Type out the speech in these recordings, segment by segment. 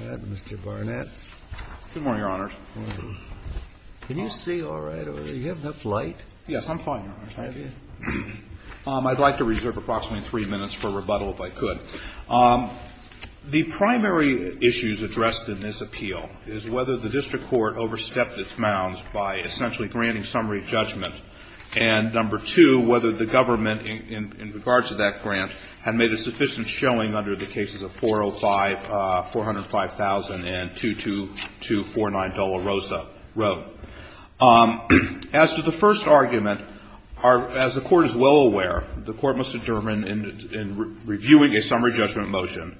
Good morning, Your Honors. Can you see all right? Do you have enough light? Yes, I'm fine, Your Honors. I'd like to reserve approximately three minutes for rebuttal if I could. The primary issues addressed in this appeal is whether the district court overstepped its mounds by essentially granting summary judgment and, number two, whether the government in regards to that grant had made a sufficient showing under the cases of 405, 405,000 and 22249 Dolorosa Road. As to the first argument, as the Court is well aware, the Court must determine in reviewing a summary judgment motion,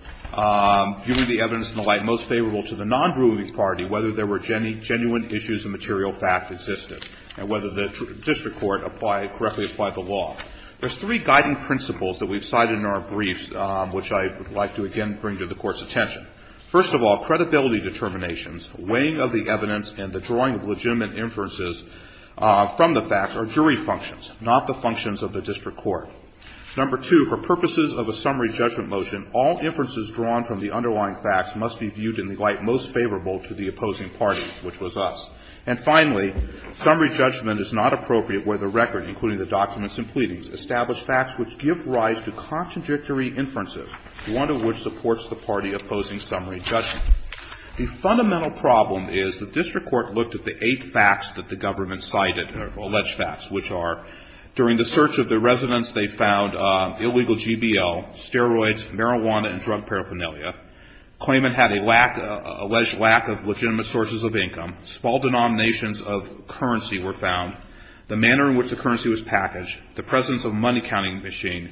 viewing the evidence in the light most favorable to the non-grooving party, whether there were genuine issues of material fact existed and whether the district court correctly applied the law. There's three guiding principles that we've cited in our briefs, which I would like to again bring to the Court's attention. First of all, credibility determinations, weighing of the evidence, and the drawing of legitimate inferences from the facts are jury functions, not the functions of the district court. Number two, for purposes of a summary judgment motion, all inferences drawn from the underlying facts must be viewed in the light most favorable to the opposing party, which was us. And finally, summary judgment is not appropriate where the record, including the documents and pleadings, establish facts which give rise to contradictory inferences, one of which supports the party opposing summary judgment. The fundamental problem is the district court looked at the eight facts that the government cited, or alleged facts, which are during the search of the residence they found illegal GBO, steroids, marijuana, and drug paraphernalia, claimant had a lack, alleged lack of legitimate sources of income, small denominations of currency were found, the manner in which the currency was packaged, the presence of money counting machine,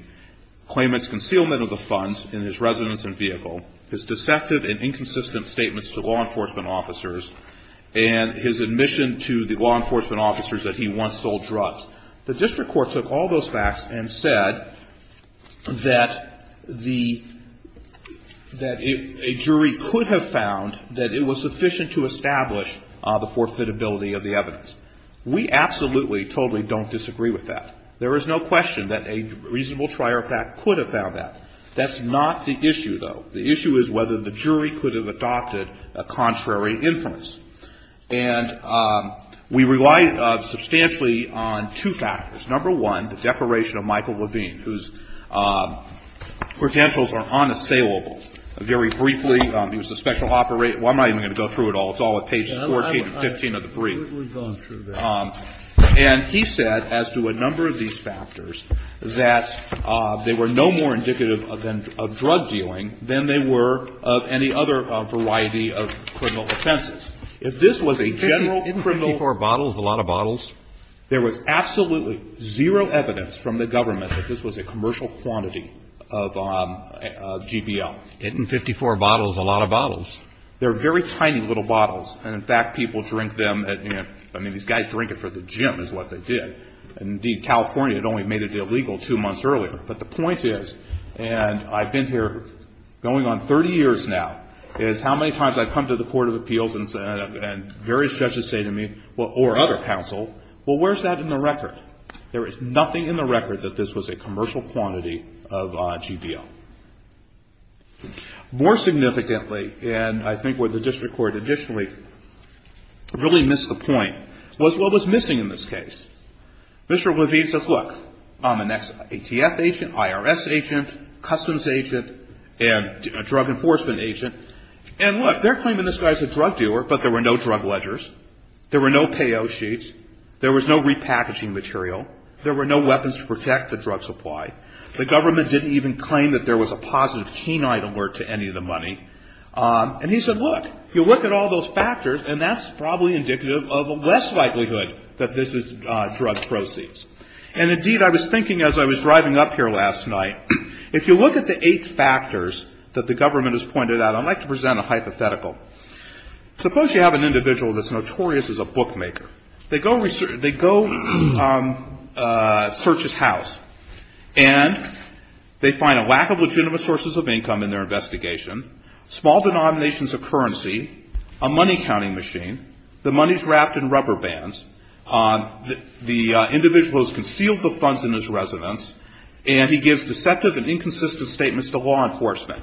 claimant's concealment of the funds in his residence and vehicle, his deceptive and inconsistent statements to law enforcement officers, and his admission to the law enforcement officers that he once sold drugs. The district court took all those facts and said that the, that a jury could have found that it was sufficient to establish the forfeitability of the evidence. We absolutely, totally don't disagree with that. There is no question that a reasonable trier of fact could have found that. That's not the issue, though. The issue is whether the jury could have adopted a contrary inference. And we rely substantially on two factors. Number one, the declaration of Michael Levine, whose credentials are unassailable. Very briefly, he was a special operator. Well, I'm not even going to go through it all. It's all at pages 14 and 15 of the brief. And he said, as to a number of these factors, that they were no more indicative of drug dealing than they were of any other variety of criminal offenses. If this was a general criminal. Kennedy, isn't 54 bottles a lot of bottles? There was absolutely zero evidence from the government that this was a commercial quantity of GBL. Isn't 54 bottles a lot of bottles? They're very tiny little bottles. And, in fact, people drink them. I mean, these guys drink it for the gym is what they did. And, indeed, California had only made it illegal two months earlier. But the point is, and I've been here going on 30 years now, is how many times I've come to the Court of Appeals and various judges say to me, or other counsel, well, where's that in the record? There is nothing in the record that this was a commercial quantity of GBL. More significantly, and I think where the district court initially really missed the point, was what was missing in this case. Mr. Levine says, look, I'm an ATF agent, IRS agent, customs agent, and a drug enforcement agent. And, look, they're claiming this guy's a drug dealer, but there were no drug ledgers. There were no payout sheets. There was no repackaging material. There were no weapons to protect the drug supply. The government didn't even claim that there was a positive canine alert to any of the money. And he said, look, you look at all those factors, and that's probably indicative of a less likelihood that this is drug proceeds. And, indeed, I was thinking as I was driving up here last night, if you look at the eight factors that the government has pointed out, I'd like to present a hypothetical. Suppose you have an individual that's notorious as a bookmaker. They go search his house. And they find a lack of legitimate sources of income in their investigation, small denominations of currency, a money counting machine, the money's wrapped in rubber bands, the individual has concealed the funds in his residence, and he gives deceptive and inconsistent statements to law enforcement.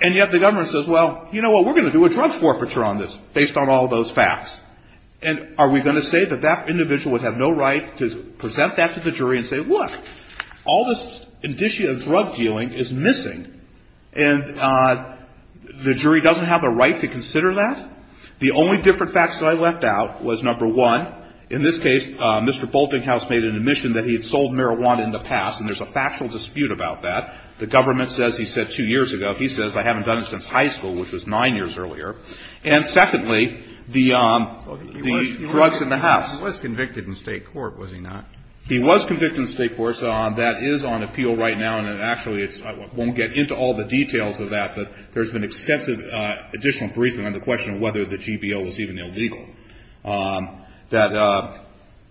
And yet the government says, well, you know what, we're going to do a drug forfeiture on this based on all those facts. And are we going to say that that individual would have no right to present that to the jury and say, look, all this indicia of drug dealing is missing. And the jury doesn't have the right to consider that? The only different facts that I left out was, number one, in this case, Mr. Boltinghouse made an admission that he had sold marijuana in the past, and there's a factual dispute about that. The government says he said two years ago. He says I haven't done it since high school, which was nine years earlier. And secondly, the drugs in the house. He was convicted in State court, was he not? He was convicted in State court, so that is on appeal right now, and actually it's – I won't get into all the details of that, but there's been extensive additional briefing on the question of whether the GBO was even illegal. That –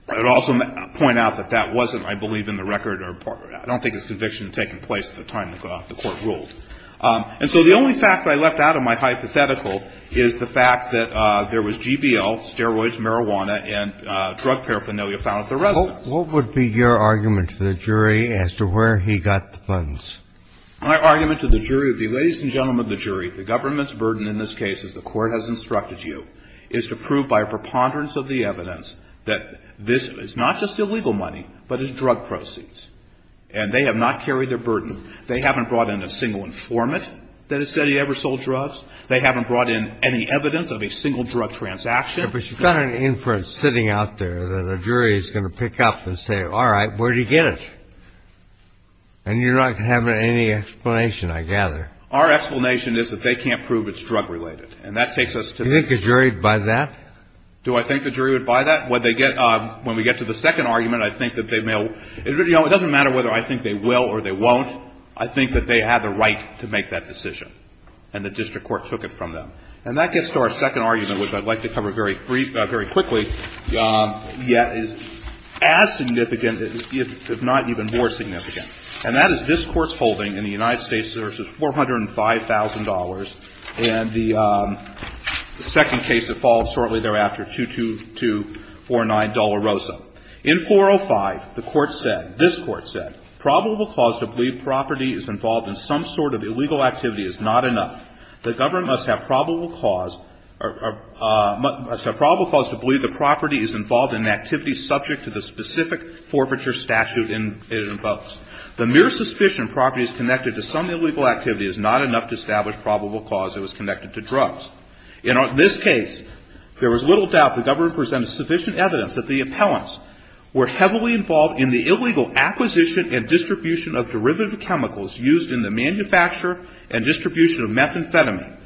I would also point out that that wasn't, I believe, in the record or – I don't think his conviction had taken place at the time the Court ruled. And so the only fact I left out of my hypothetical is the fact that there was GBO, steroids, marijuana, and drug paraphernalia found at the residence. What would be your argument to the jury as to where he got the funds? My argument to the jury would be, ladies and gentlemen of the jury, the government's burden in this case, as the Court has instructed you, is to prove by a preponderance of the evidence that this is not just illegal money, but is drug proceeds. And they have not carried their burden. They haven't brought in a single informant that has said he ever sold drugs. They haven't brought in any evidence of a single drug transaction. But you've got an inference sitting out there that a jury is going to pick up and say, all right, where'd he get it? And you're not going to have any explanation, I gather. Our explanation is that they can't prove it's drug-related. And that takes us to the – Do you think the jury would buy that? Do I think the jury would buy that? When they get – when we get to the second argument, I think that they may – it doesn't matter whether I think they will or they won't. I think that they have a right to make that decision. And the district court took it from them. And that gets to our second argument, which I'd like to cover very briefly – very quickly, yet is as significant, if not even more significant. And that is this Court's holding in the United States versus $405,000, and the second case that follows shortly thereafter, 22249, Dolorosa. In 405, the Court said – this Court said, Probable cause to believe property is involved in some sort of illegal activity is not enough. The government must have probable cause – must have probable cause to believe the property is involved in an activity subject to the specific forfeiture statute it invokes. The mere suspicion property is connected to some illegal activity is not enough to establish probable cause it was connected to drugs. In this case, there was little doubt the government presented sufficient evidence that the appellants were heavily involved in the illegal acquisition and distribution of derivative chemicals used in the manufacture and distribution of methamphetamine.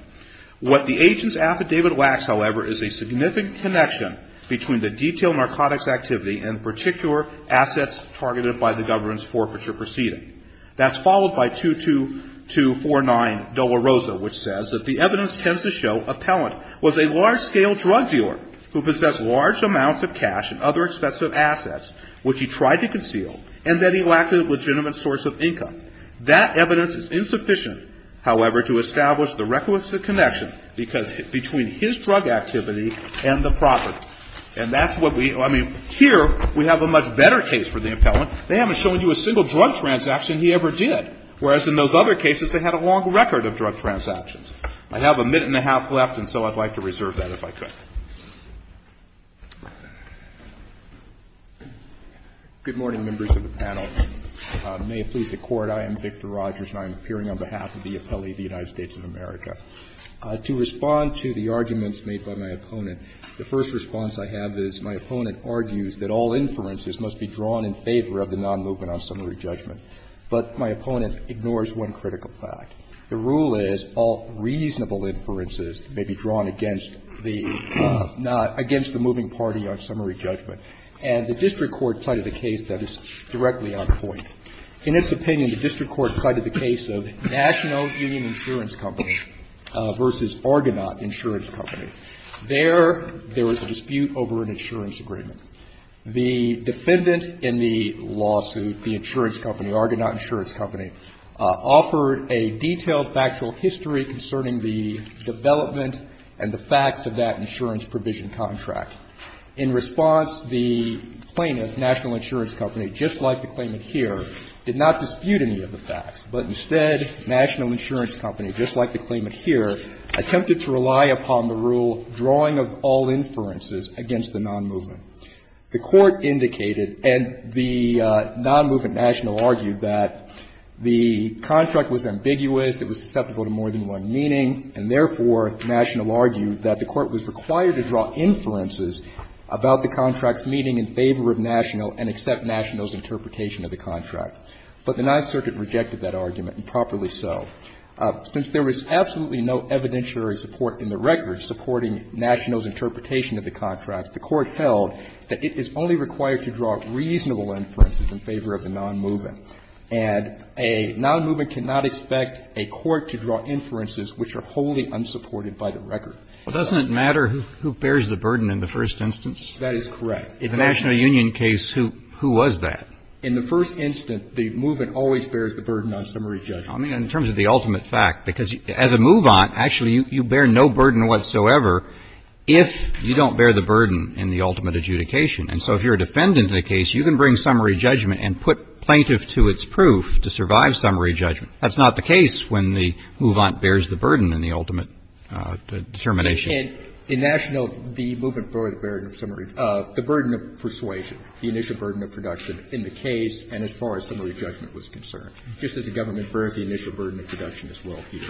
What the agent's affidavit lacks, however, is a significant connection between the detailed narcotics activity and particular assets targeted by the government's forfeiture proceeding. That's followed by 22249, Dolorosa, which says that the evidence tends to show that the appellant was a large-scale drug dealer who possessed large amounts of cash and other expensive assets, which he tried to conceal, and that he lacked a legitimate source of income. That evidence is insufficient, however, to establish the requisite connection because – between his drug activity and the property. And that's what we – I mean, here we have a much better case for the appellant. They haven't shown you a single drug transaction he ever did, whereas in those other cases they had a long record of drug transactions. I have a minute and a half left, and so I'd like to reserve that if I could. Victor Rogers, Jr. Good morning, members of the panel. May it please the Court, I am Victor Rogers, and I am appearing on behalf of the appellee of the United States of America. To respond to the arguments made by my opponent, the first response I have is my opponent argues that all inferences must be drawn in favor of the non-movement on summary But my opponent ignores one critical fact. The rule is all reasonable inferences may be drawn against the – not against the moving party on summary judgment. And the district court cited a case that is directly on point. In its opinion, the district court cited the case of National Union Insurance Company v. Argonaut Insurance Company. There, there was a dispute over an insurance agreement. The defendant in the lawsuit, the insurance company, Argonaut Insurance Company, offered a detailed factual history concerning the development and the facts of that insurance provision contract. In response, the plaintiff, National Insurance Company, just like the claimant here, did not dispute any of the facts, but instead National Insurance Company, just like the claimant here, attempted to rely upon the rule drawing of all inferences against the non-movement. The court indicated, and the non-movement, National, argued that the contract was ambiguous, it was susceptible to more than one meaning, and therefore, National argued that the court was required to draw inferences about the contract's meaning in favor of National and accept National's interpretation of the contract. But the Ninth Circuit rejected that argument, and properly so. Since there was absolutely no evidentiary support in the record supporting National's interpretation of the contract, the court held that it is only required to draw reasonable inferences in favor of the non-movement. And a non-movement cannot expect a court to draw inferences which are wholly unsupported by the record. But doesn't it matter who bears the burden in the first instance? That is correct. In the National Union case, who was that? In the first instance, the movement always bears the burden on summary judgment. I mean, in terms of the ultimate fact, because as a move-on, actually, you bear no burden whatsoever if you don't bear the burden in the ultimate adjudication. And so if you're a defendant in a case, you can bring summary judgment and put plaintiff to its proof to survive summary judgment. That's not the case when the move-on bears the burden in the ultimate determination. In National, the movement bore the burden of summary – the burden of persuasion, the initial burden of production in the case and as far as summary judgment was concerned. Just as the government bears the initial burden of production as well here.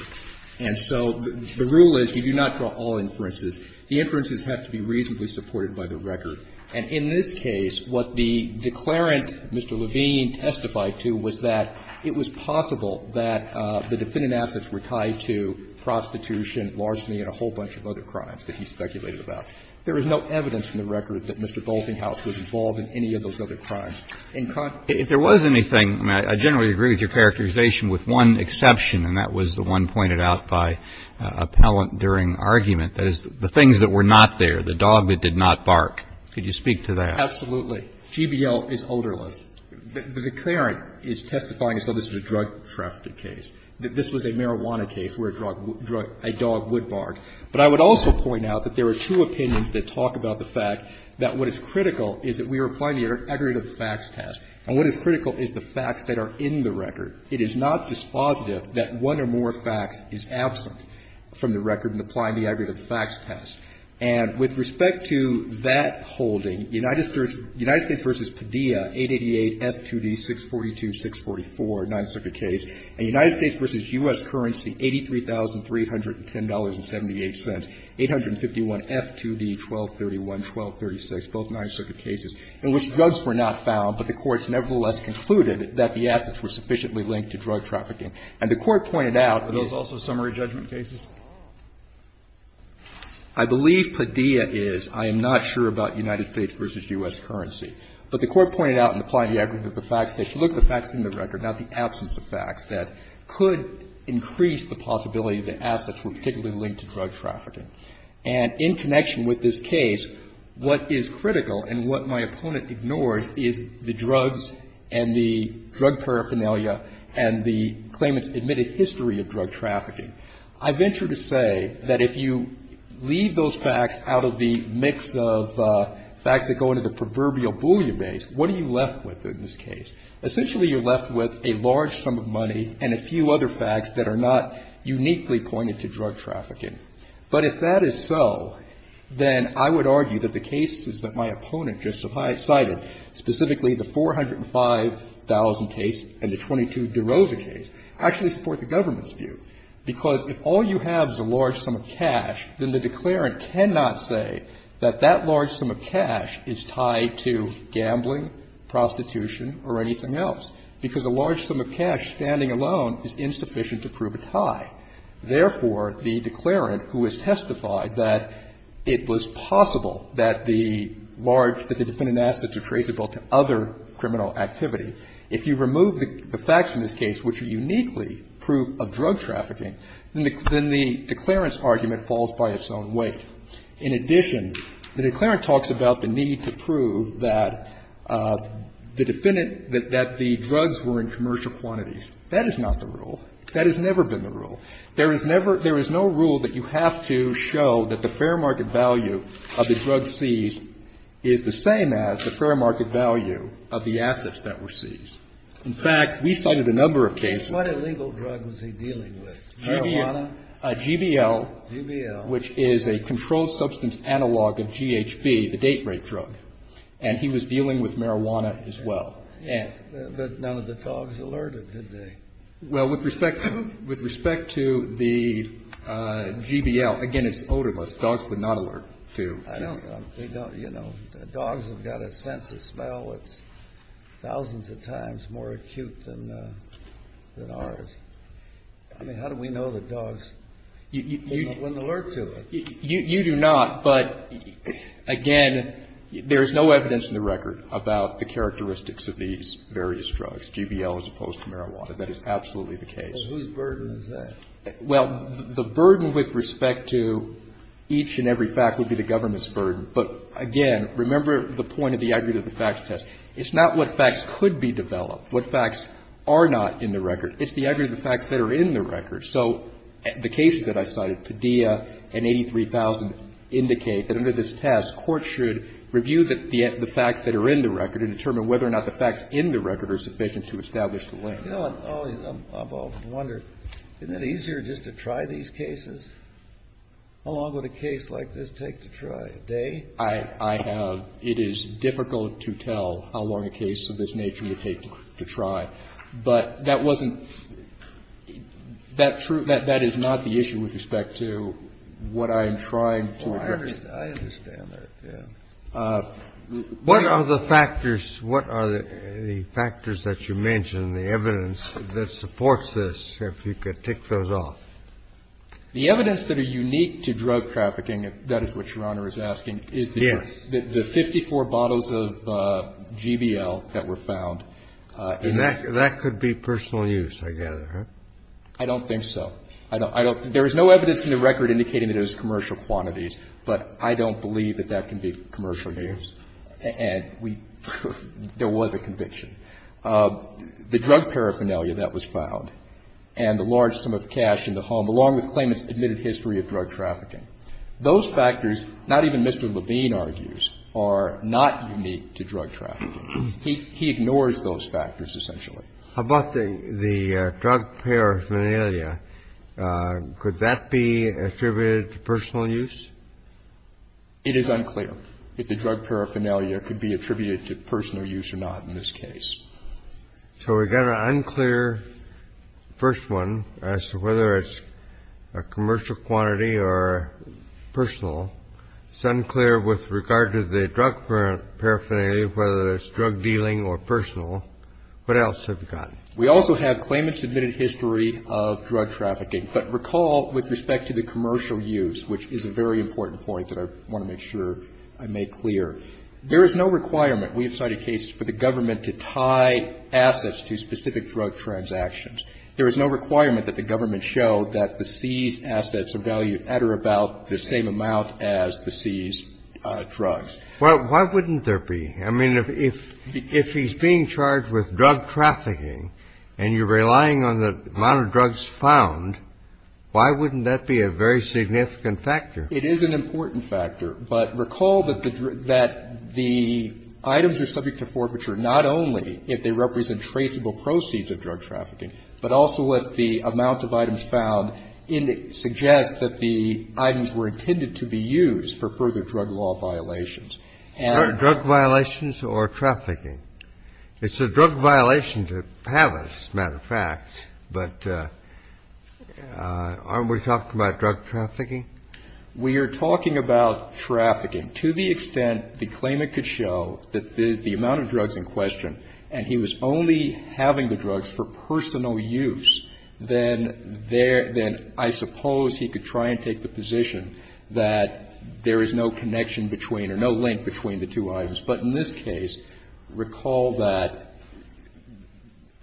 And so the rule is you do not draw all inferences. The inferences have to be reasonably supported by the record. And in this case, what the declarant, Mr. Levine, testified to was that it was possible that the defendant assets were tied to prostitution, larceny and a whole bunch of other crimes that he speculated about. There is no evidence in the record that Mr. Boltinghouse was involved in any of those was involved in any of those other crimes. And I know that's been pointed out by appellant during argument, that is, the things that were not there, the dog that did not bark. Could you speak to that? Absolutely. GBL is odorless. The declarant is testifying as though this was a drug-trafficked case, that this was a marijuana case where a drug – a dog would bark. But I would also point out that there are two opinions that talk about the fact that what is critical is that we are applying the aggregate of the facts test. And what is critical is the facts that are in the record. It is not dispositive that one or more facts is absent from the record in applying the aggregate of the facts test. And with respect to that holding, United States v. Padilla, 888 F2D 642-644, a Ninth Circuit case, and United States v. U.S. Currency, $83,310.78, 851 F2D 1231-1236, both Ninth Circuit cases, in which drugs were not found, but the courts nevertheless concluded that the assets were sufficiently linked to drug trafficking. And the Court pointed out that those also summary judgment cases? I believe Padilla is. I am not sure about United States v. U.S. Currency. But the Court pointed out in applying the aggregate of the facts test, look at the facts in the record, not the absence of facts, that could increase the possibility that assets were particularly linked to drug trafficking. And in connection with this case, what is critical and what my opponent ignores is the drugs and the drug paraphernalia and the claimant's admitted history of drug trafficking. I venture to say that if you leave those facts out of the mix of facts that go into the proverbial Boolean base, what are you left with in this case? Essentially, you're left with a large sum of money and a few other facts that are not uniquely pointed to drug trafficking. But if that is so, then I would argue that the cases that my opponent just cited specifically the 405,000 case and the 22 DeRosa case actually support the government's view. Because if all you have is a large sum of cash, then the declarant cannot say that that large sum of cash is tied to gambling, prostitution, or anything else, because a large sum of cash standing alone is insufficient to prove a tie. Therefore, the declarant who has testified that it was possible that the large sum of cash that the defendant asked to traceable to other criminal activity, if you remove the facts in this case, which are uniquely proof of drug trafficking, then the declarant's argument falls by its own weight. In addition, the declarant talks about the need to prove that the defendant that the drugs were in commercial quantities. That is not the rule. That has never been the rule. There is never – there is no rule that you have to show that the fair market value of the drug seized is the same as the fair market value of the assets that were seized. In fact, we cited a number of cases. Kennedy. What illegal drug was he dealing with? Marijuana? GBL. GBL. Which is a controlled substance analog of GHB, the date rape drug. And he was dealing with marijuana as well. But none of the dogs alerted, did they? Well, with respect to the GBL, again, it's odorless. Dogs would not alert to. I don't know. They don't, you know. Dogs have got a sense of smell that's thousands of times more acute than ours. I mean, how do we know that dogs wouldn't alert to it? You do not. But, again, there is no evidence in the record about the characteristics of these various drugs, GBL as opposed to marijuana. That is absolutely the case. And whose burden is that? Well, the burden with respect to each and every fact would be the government's burden. But, again, remember the point of the aggregate of the facts test. It's not what facts could be developed, what facts are not in the record. It's the aggregate of the facts that are in the record. So the cases that I cited, Padilla and 83,000, indicate that under this test, court should review the facts that are in the record and determine whether or not the facts in the record are sufficient to establish the link. You know, I wonder, isn't it easier just to try these cases? How long would a case like this take to try, a day? I have ‑‑ it is difficult to tell how long a case of this nature would take to try. But that wasn't ‑‑ that is not the issue with respect to what I am trying to address. I understand that, yes. What are the factors ‑‑ what are the factors that you mentioned, the evidence that supports this, if you could tick those off? The evidence that are unique to drug trafficking, if that is what Your Honor is asking, is the 54 bottles of GBL that were found. And that could be personal use, I gather, right? I don't think so. I don't ‑‑ there is no evidence in the record indicating that it was commercial quantities, but I don't believe that that can be commercial use. And we ‑‑ there was a conviction. The drug paraphernalia that was found and the large sum of cash in the home, along with claimants' admitted history of drug trafficking. Those factors, not even Mr. Levine argues, are not unique to drug trafficking. He ignores those factors, essentially. How about the drug paraphernalia? Could that be attributed to personal use? It is unclear if the drug paraphernalia could be attributed to personal use or not in this case. So we've got an unclear first one as to whether it's a commercial quantity or personal. It's unclear with regard to the drug paraphernalia, whether it's drug dealing or personal. What else have we got? We also have claimants' admitted history of drug trafficking. But recall, with respect to the commercial use, which is a very important point that I want to make sure I make clear, there is no requirement, we have cited cases for the government to tie assets to specific drug transactions. There is no requirement that the government show that the seized assets are valued at or about the same amount as the seized drugs. Well, why wouldn't there be? I mean, if he's being charged with drug trafficking and you're relying on the amount of drugs found, why wouldn't that be a very significant factor? It is an important factor. But recall that the items are subject to forfeiture not only if they represent traceable proceeds of drug trafficking, but also if the amount of items found in it suggest that the items were intended to be used for further drug law violations. Drugs violations or trafficking. It's a drug violation to have it, as a matter of fact, but aren't we talking about drug trafficking? We are talking about trafficking. To the extent the claimant could show that the amount of drugs in question, and he was only having the drugs for personal use, then there – then I suppose he could try and take the position that there is no connection between or no link between the two items. But in this case, recall that,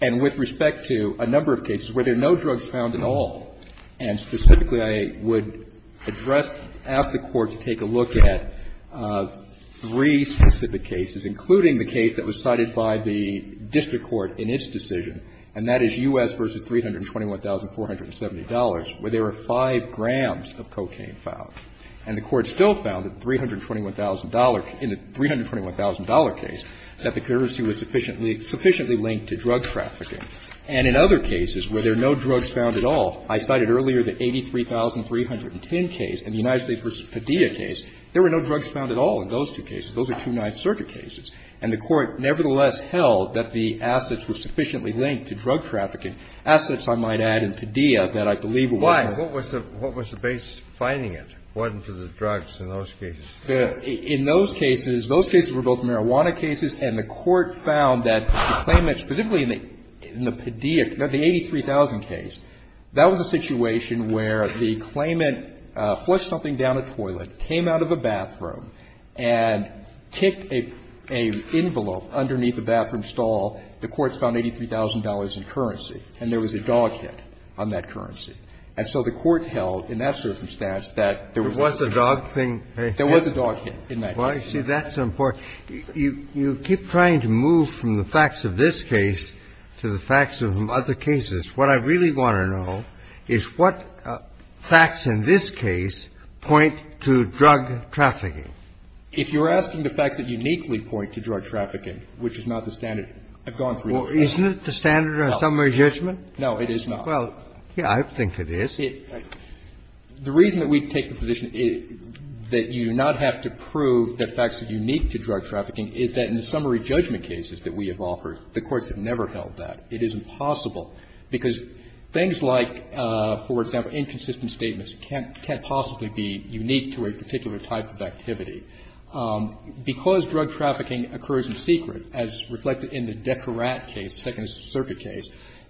and with respect to a number of cases where there are no drugs found at all, and specifically I would address – ask the Court to take a look at three specific cases, including the case that was cited by the district court in its decision, and that is U.S. v. $321,470, where there are five grand of cocaine found. And the Court still found that $321,000 – in the $321,000 case, that the currency was sufficiently linked to drug trafficking. And in other cases where there are no drugs found at all, I cited earlier the 83,310 case and the United States v. Padilla case, there were no drugs found at all in those two cases. Those are two nice circuit cases. And the Court nevertheless held that the assets were sufficiently linked to drug trafficking. Assets, I might add, in Padilla that I believe were working. And so that's why I'm asking, what was the basis of finding it, whether it was drugs in those cases? In those cases, those cases were both marijuana cases, and the Court found that the claimants, specifically in the Padilla, the 83,000 case, that was a situation where the claimant flushed something down a toilet, came out of a bathroom, and ticked an envelope underneath the bathroom stall. The courts found $83,000 in currency, and there was a dog hit on that currency. And so the Court held in that circumstance that there was a dog hit. There was a dog hit in that case. That's important. You keep trying to move from the facts of this case to the facts of other cases. What I really want to know is what facts in this case point to drug trafficking? If you're asking the facts that uniquely point to drug trafficking, which is not the standard I've gone through. Isn't it the standard on some registration? No, it is not. Well, yes, I think it is. The reason that we take the position that you do not have to prove that facts are unique to drug trafficking is that in the summary judgment cases that we have offered, the courts have never held that. It is impossible, because things like, for example, inconsistent statements can't possibly be unique to a particular type of activity. Because drug trafficking occurs in secret, as reflected in the Decarat case, the Second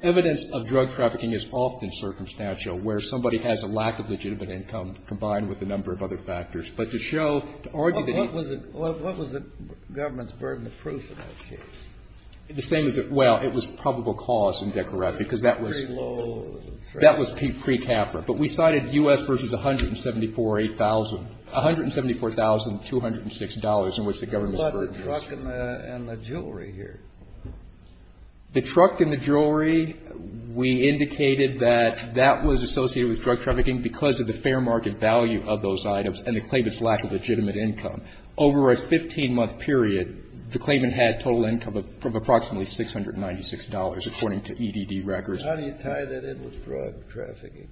Amendment, where drug trafficking is often circumstantial, where somebody has a lack of legitimate income, combined with a number of other factors. But to show, to argue that you can't prove that drug trafficking is unique to a particular And I think that's what we're trying to do in this case, is to show that it's not that that was associated with drug trafficking because of the fair market value of those items and the claimant's lack of legitimate income. Over a 15-month period, the claimant had total income of approximately $696, according to EDD records. Kennedy. How do you tie that in with drug trafficking?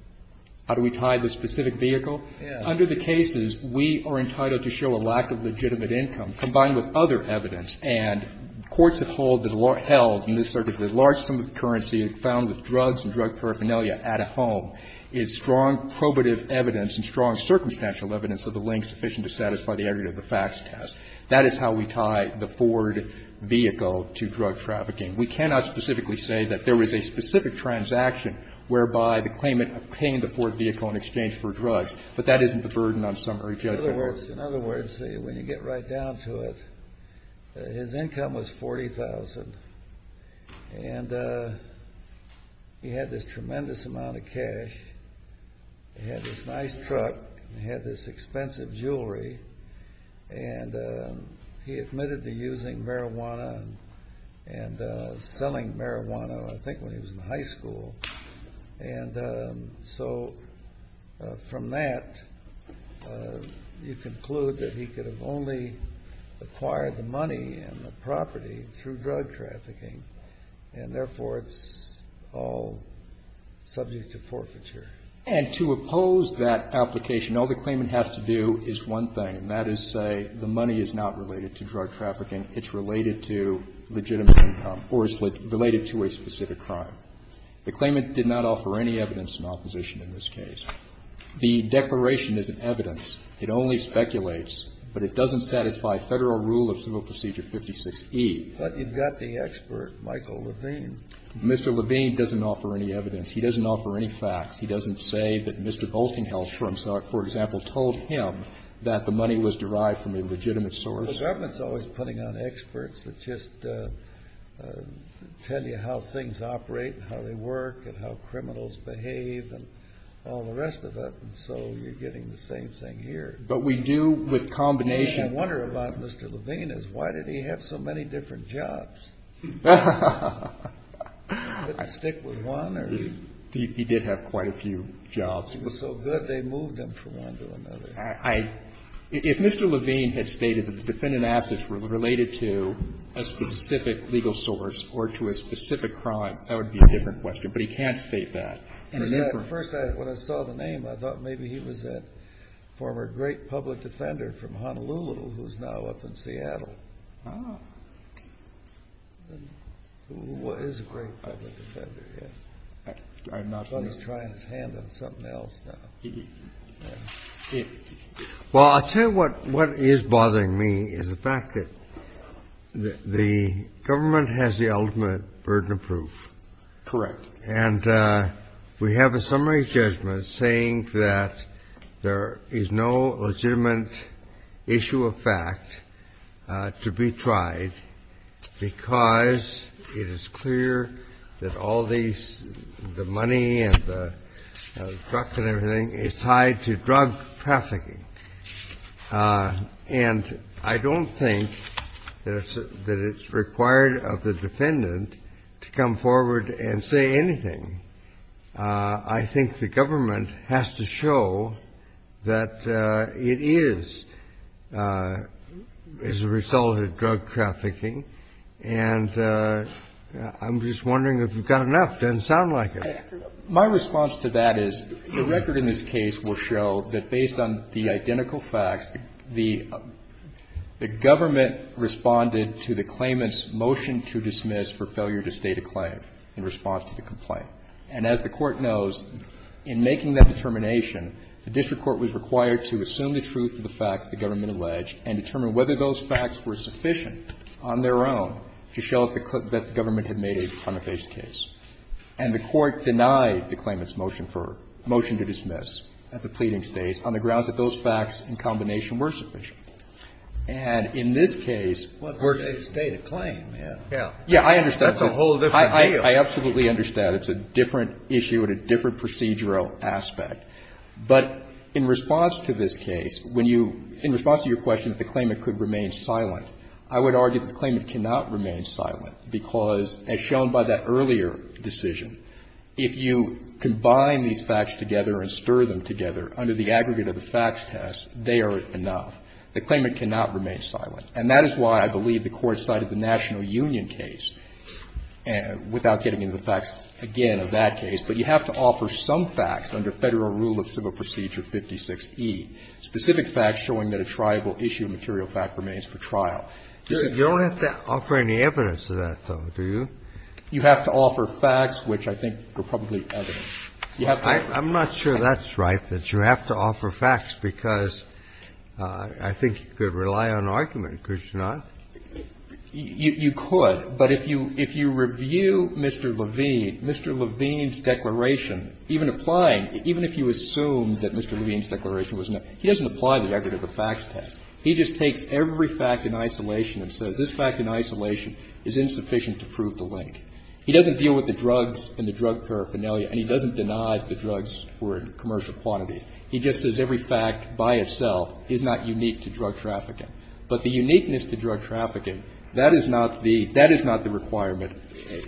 How do we tie the specific vehicle? Under the cases, we are entitled to show a lack of legitimate income, combined with other evidence. And courts have held in this circuit that a large sum of currency found with drugs and drug paraphernalia at a home is strong probative evidence and strong circumstantial evidence of the link sufficient to satisfy the area of the facts test. That is how we tie the Ford vehicle to drug trafficking. We cannot specifically say that there was a specific transaction whereby the claimant obtained the Ford vehicle in exchange for drugs. But that isn't the burden on summary judgment. In other words, in other words, when you get right down to it, his income was $40,000. And he had this tremendous amount of cash. He had this nice truck. He had this expensive jewelry. And he admitted to using marijuana and selling marijuana, I think, when he was in high school. And so from that, you conclude that he could have only acquired the money and the property through drug trafficking, and therefore, it's all subject to forfeiture. And to oppose that application, all the claimant has to do is one thing, and that is say the money is not related to drug trafficking, it's related to legitimate income or it's related to a specific crime. The claimant did not offer any evidence in opposition in this case. The declaration is an evidence. It only speculates, but it doesn't satisfy Federal Rule of Civil Procedure 56e. But you've got the expert, Michael Levine. Mr. Levine doesn't offer any evidence. He doesn't offer any facts. He doesn't say that Mr. Boltinghouse, for example, told him that the money was derived from a legitimate source. The government's always putting on experts that just tell you how things operate and how they work and how criminals behave and all the rest of it. And so you're getting the same thing here. But we do with combination. And the wonder about Mr. Levine is why did he have so many different jobs? He didn't stick with one or he was so good, they moved him from one to another. I — if Mr. Levine had stated that the defendant assets were related to a specific legal source or to a specific crime, that would be a different question. But he can't state that. At first, when I saw the name, I thought maybe he was a former great public defender from Honolulu who's now up in Seattle. Who is a great public defender, yes. I thought he was trying his hand on something else now. Well, I'll tell you what is bothering me is the fact that the government has the ultimate burden of proof. Correct. And we have a summary judgment saying that there is no legitimate issue of fact to be tried because it is clear that all these — the money and the drugs and everything is tied to drug trafficking. And I don't think that it's required of the defendant to come forward and say anything. I think the government has to show that it is as a result of drug trafficking. And I'm just wondering if you've got enough. It doesn't sound like it. My response to that is the record in this case will show that based on the identical facts, the government responded to the claimant's motion to dismiss for failure to state a claim in response to the complaint. And as the Court knows, in making that determination, the district court was required to assume the truth of the facts the government alleged and determine whether those facts were sufficient on their own to show that the government had made a front-and-face case. And the Court denied the claimant's motion for — motion to dismiss at the pleading states on the grounds that those facts in combination were sufficient. And in this case, we're — But they state a claim. Yeah. Yeah, I understand. That's a whole different deal. I absolutely understand. It's a different issue and a different procedural aspect. But in response to this case, when you — in response to your question that the claimant could remain silent, I would argue that the claimant cannot remain silent because, as shown by that earlier decision, if you combine these facts together and stir them together under the aggregate of the facts test, they are enough. The claimant cannot remain silent. And that is why I believe the Court cited the National Union case, without getting into the facts, again, of that case. But you have to offer some facts under Federal Rule of Civil Procedure 56e, specific facts showing that a triable issue of material fact remains for trial. You don't have to offer any evidence to that, though, do you? You have to offer facts, which I think are probably evidence. You have to offer facts. I'm not sure that's right, that you have to offer facts, because I think you could rely on argument, Krishnan. You could. But if you review Mr. Levine, Mr. Levine's declaration, even applying — even if you assume that Mr. Levine's declaration was not — he doesn't apply the aggregate of the facts test. He just takes every fact in isolation and says this fact in isolation is insufficient to prove the link. He doesn't deal with the drugs and the drug paraphernalia, and he doesn't deny the drugs were in commercial quantities. He just says every fact by itself is not unique to drug trafficking. But the uniqueness to drug trafficking, that is not the — that is not the requirement.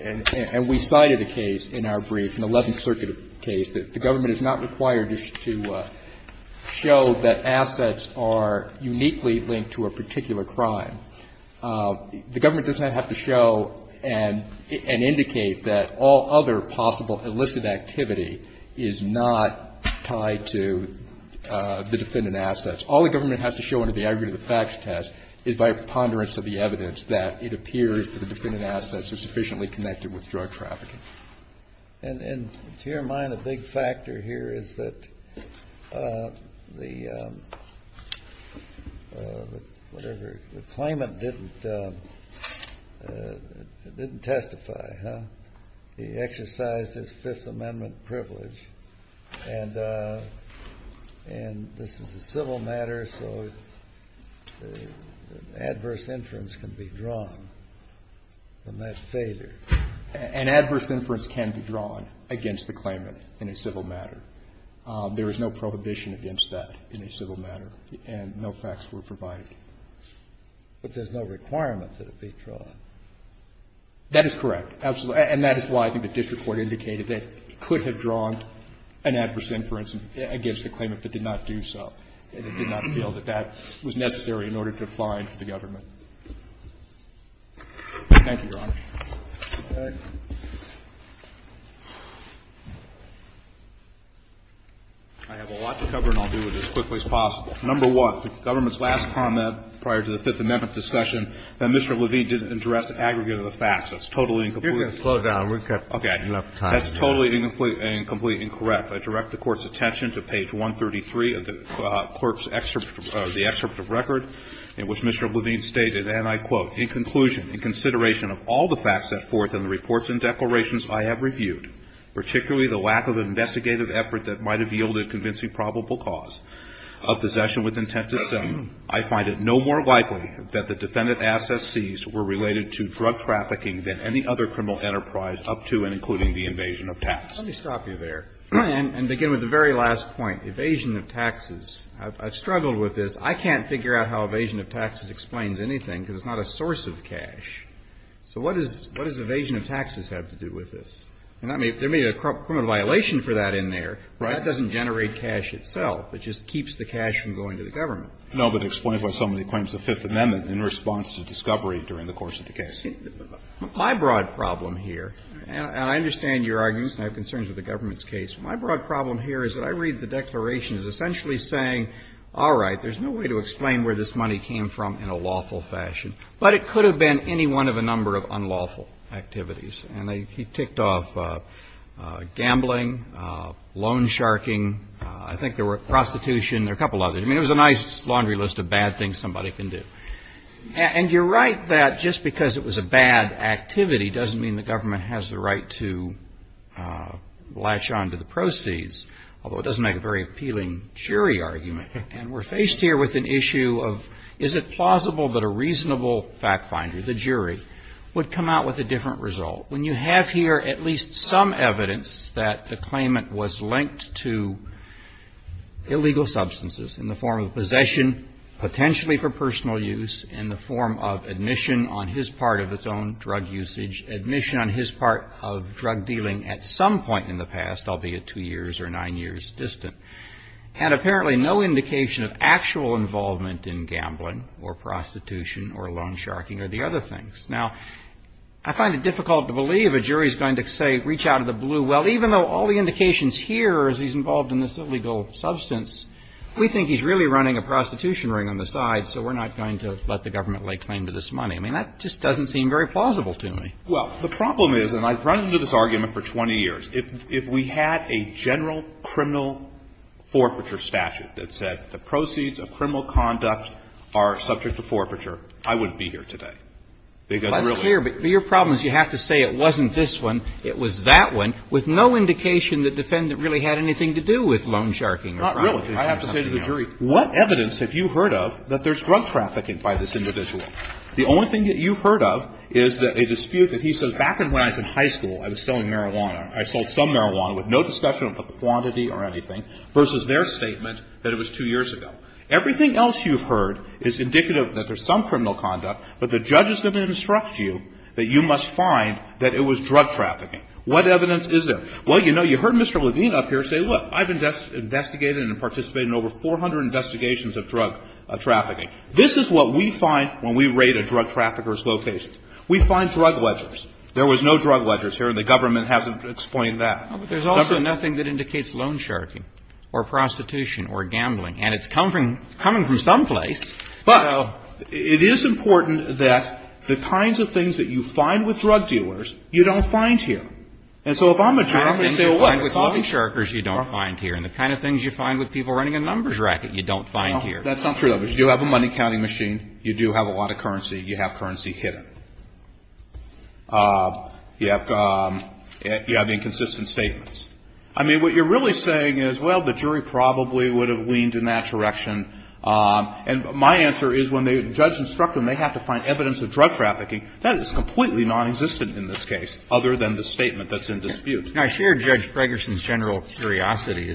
And we cited a case in our brief, an Eleventh Circuit case, that the government is not required to show that assets are uniquely linked to a particular crime. The government does not have to show and indicate that all other possible illicit activity is not tied to the defendant assets. All the government has to show under the aggregate of the facts test is by a preponderance of the evidence that it appears that the defendant assets are sufficiently connected with drug trafficking. And to your mind, a big factor here is that the — whatever, the claimant didn't testify, huh? He exercised his Fifth Amendment privilege. And this is a civil matter, so adverse inference can be drawn from that failure. An adverse inference can be drawn against the claimant in a civil matter. There is no prohibition against that in a civil matter, and no facts were provided. But there's no requirement that it be drawn. That is correct, absolutely. And that is why I think the district court indicated that it could have drawn an adverse inference against the claimant, but did not do so. It did not feel that that was necessary in order to find the government. Thank you, Your Honor. I have a lot to cover, and I'll do it as quickly as possible. Number one, the government's last comment prior to the Fifth Amendment discussion that Mr. Levine didn't address the aggregate of the facts. That's totally and completely incorrect. You're going to slow down. We've got enough time. That's totally and completely incorrect. I direct the Court's attention to page 133 of the court's excerpt, the excerpt of record in which Mr. Levine stated, and I quote, In conclusion, in consideration of all the facts set forth in the reports and declarations I have reviewed, particularly the lack of investigative effort that might have yielded convincing probable cause of possession with intent to sell, I find it no more likely that the defendant's assets seized were related to drug trafficking than any other criminal enterprise up to and including the invasion of tax. Let me stop you there and begin with the very last point, evasion of taxes. I've struggled with this. I can't figure out how evasion of taxes explains anything because it's not a source of cash. So what does evasion of taxes have to do with this? And there may be a criminal violation for that in there, but that doesn't generate cash itself. It just keeps the cash from going to the government. No, but explain why somebody claims the Fifth Amendment in response to discovery during the course of the case. My broad problem here, and I understand your arguments and I have concerns with the government's case. My broad problem here is that I read the declarations essentially saying, all right, there's no way to explain where this money came from in a lawful fashion. But it could have been any one of a number of unlawful activities. And he ticked off gambling, loan sharking, I think there were prostitution, there were a couple of others. I mean, it was a nice laundry list of bad things somebody can do. And you're right that just because it was a bad activity doesn't mean the government has the right to latch on to the proceeds, although it doesn't make a very appealing jury argument. And we're faced here with an issue of is it plausible that a reasonable fact finder, the jury, would come out with a different result when you have here at least some evidence that the claimant was linked to illegal substances in the form of possession, potentially for personal use, in the form of admission on his part of its own drug usage, admission on his part of drug dealing at some point in the past, albeit two years or nine years distant. And apparently no indication of actual involvement in gambling or prostitution or loan sharking or the other things. Now, I find it difficult to believe a jury is going to say, reach out of the blue, well, even though all the indications here is he's involved in this illegal substance, we think he's really running a prostitution ring on the side, so we're not going to let the government lay claim to this money. I mean, that just doesn't seem very plausible to me. Well, the problem is, and I've run into this argument for 20 years, if we had a general criminal forfeiture statute that said the proceeds of criminal conduct are subject to forfeiture, I wouldn't be here today. Because really the jury would be here. But your problem is you have to say it wasn't this one, it was that one, with no indication the defendant really had anything to do with loan sharking or prostitution. Not really. I have to say to the jury, what evidence have you heard of that there's drug trafficking by this individual? The only thing that you've heard of is that a dispute that he says, back when I was in high school, I was selling marijuana. I sold some marijuana with no discussion of the quantity or anything, versus their statement that it was two years ago. Everything else you've heard is indicative that there's some criminal conduct, but the judge is going to instruct you that you must find that it was drug trafficking. What evidence is there? Well, you know, you heard Mr. Levine up here say, look, I've investigated and participated in over 400 investigations of drug trafficking. This is what we find when we raid a drug trafficker's location. We find drug ledgers. There was no drug ledgers here, and the government hasn't explained that. But there's also nothing that indicates loan sharking or prostitution or gambling, and it's coming from some place. But it is important that the kinds of things that you find with drug dealers, you don't find here. And so if I'm a jury, I'm going to say, well, what? The kind of things you find with loan sharkers, you don't find here. And the kind of things you find with people running a numbers racket, you don't find here. That's not true, though, because you do have a money counting machine. You do have a lot of currency. You have currency hidden. You have inconsistent statements. I mean, what you're really saying is, well, the jury probably would have leaned in that direction. And my answer is, when the judge instructs them, they have to find evidence of drug trafficking. That is completely non-existent in this case, other than the statement that's in dispute. Now, I share Judge Fragerson's general curiosity.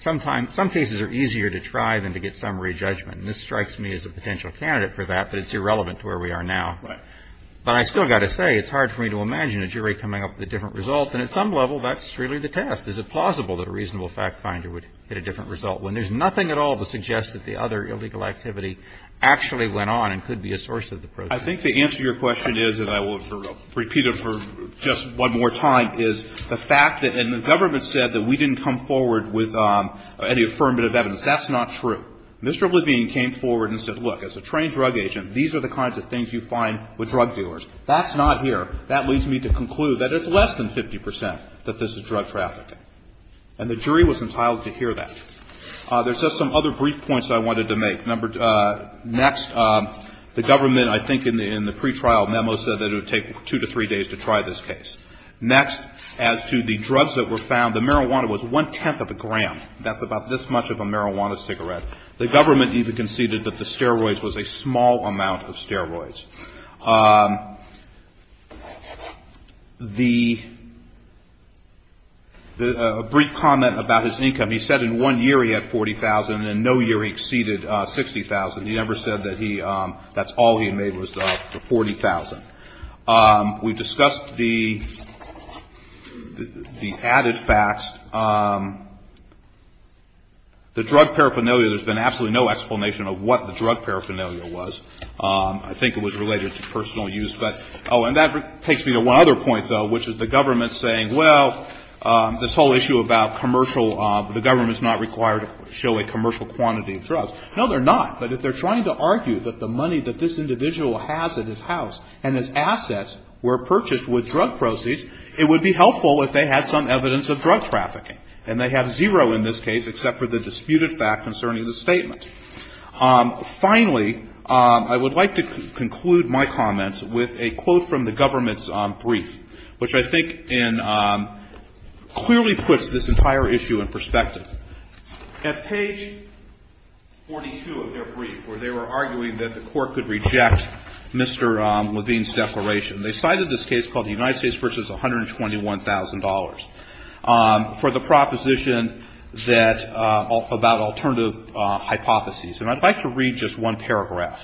Some cases are easier to try than to get summary judgment. And this strikes me as a potential candidate for that, but it's irrelevant to where we are now. But I still got to say, it's hard for me to imagine a jury coming up with a different result, and at some level, that's really the test. Is it plausible that a reasonable fact finder would get a different result when there's nothing at all to suggest that the other illegal activity actually went on and could be a source of the program? I think the answer to your question is, and I will repeat it for just one more time, is the fact that, and the government said that we didn't come forward with any affirmative evidence. That's not true. Mr. Levine came forward and said, look, as a trained drug agent, these are the kinds of things you find with drug dealers. That's not here. That leads me to conclude that it's less than 50% that this is drug trafficking. And the jury was entitled to hear that. There's just some other brief points I wanted to make. Next, the government, I think in the pretrial memo, said that it would take two to three days to try this case. Next, as to the drugs that were found, the marijuana was one-tenth of a gram. That's about this much of a marijuana cigarette. The government even conceded that the steroids was a small amount of steroids. The brief comment about his income, he said in one year he had $40,000, and in no year he exceeded $60,000. He never said that that's all he made was the $40,000. We discussed the added facts. The drug paraphernalia, there's been absolutely no explanation of what the drug paraphernalia was. I think it was related to personal use. Oh, and that takes me to one other point, though, which is the government saying, well, this whole issue about commercial, the government's not required to show a commercial quantity of drugs. No, they're not. But if they're trying to argue that the money that this individual has at his house and his assets were purchased with drug proceeds, it would be helpful if they had some evidence of drug trafficking. And they have zero in this case, except for the disputed fact concerning the statement. Finally, I would like to conclude my comments with a quote from the government's brief, which I think clearly puts this entire issue in perspective. At page 42 of their brief, where they were arguing that the court could reject Mr. Levine's declaration, they cited this case called the United States versus $121,000 for the proposition about alternative hypotheses. And I'd like to read just one paragraph.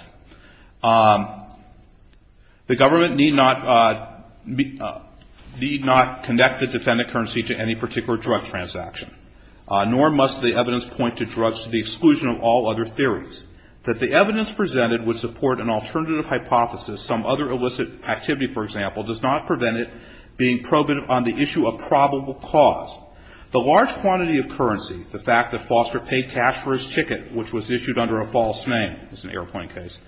The government need not connect the defendant currency to any particular drug transaction, nor must the evidence point to drugs to the exclusion of all other theories. That the evidence presented would support an alternative hypothesis, some other illicit activity, for example, does not prevent it being proven on the issue of probable cause. The large quantity of currency, the fact that Foster paid cash for his ticket, which was issued under a false name, it's an airplane case,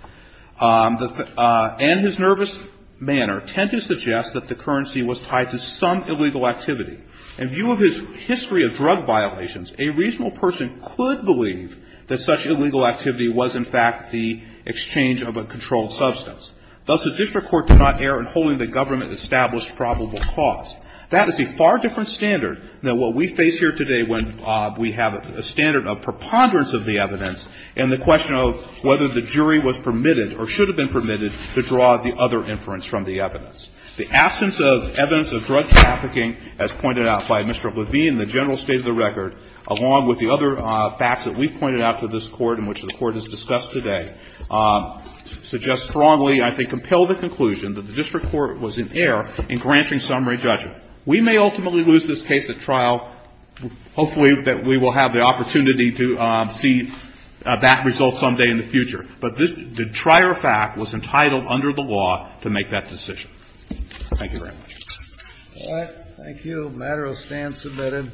and his nervous manner tend to suggest that the currency was tied to some illegal activity. In view of his history of drug violations, a reasonable person could believe that such illegal activity was, in fact, the exchange of a controlled substance. Thus, the district court did not err in holding the government established probable cause. That is a far different standard than what we face here today when we have a standard of preponderance of the evidence and the question of whether the jury was permitted or should have been permitted to draw the other inference from the evidence. The absence of evidence of drug trafficking, as pointed out by Mr. Levine in the general state of the record, along with the other facts that we've pointed out to this Court and which the Court has discussed today, suggest strongly, I think, compel the conclusion that the district court was in error in granting summary judgment. We may ultimately lose this case at trial. Hopefully, we will have the opportunity to see that result someday in the future. But the trier fact was entitled under the law to make that decision. Thank you very much. Thank you. The matter is stand submitted.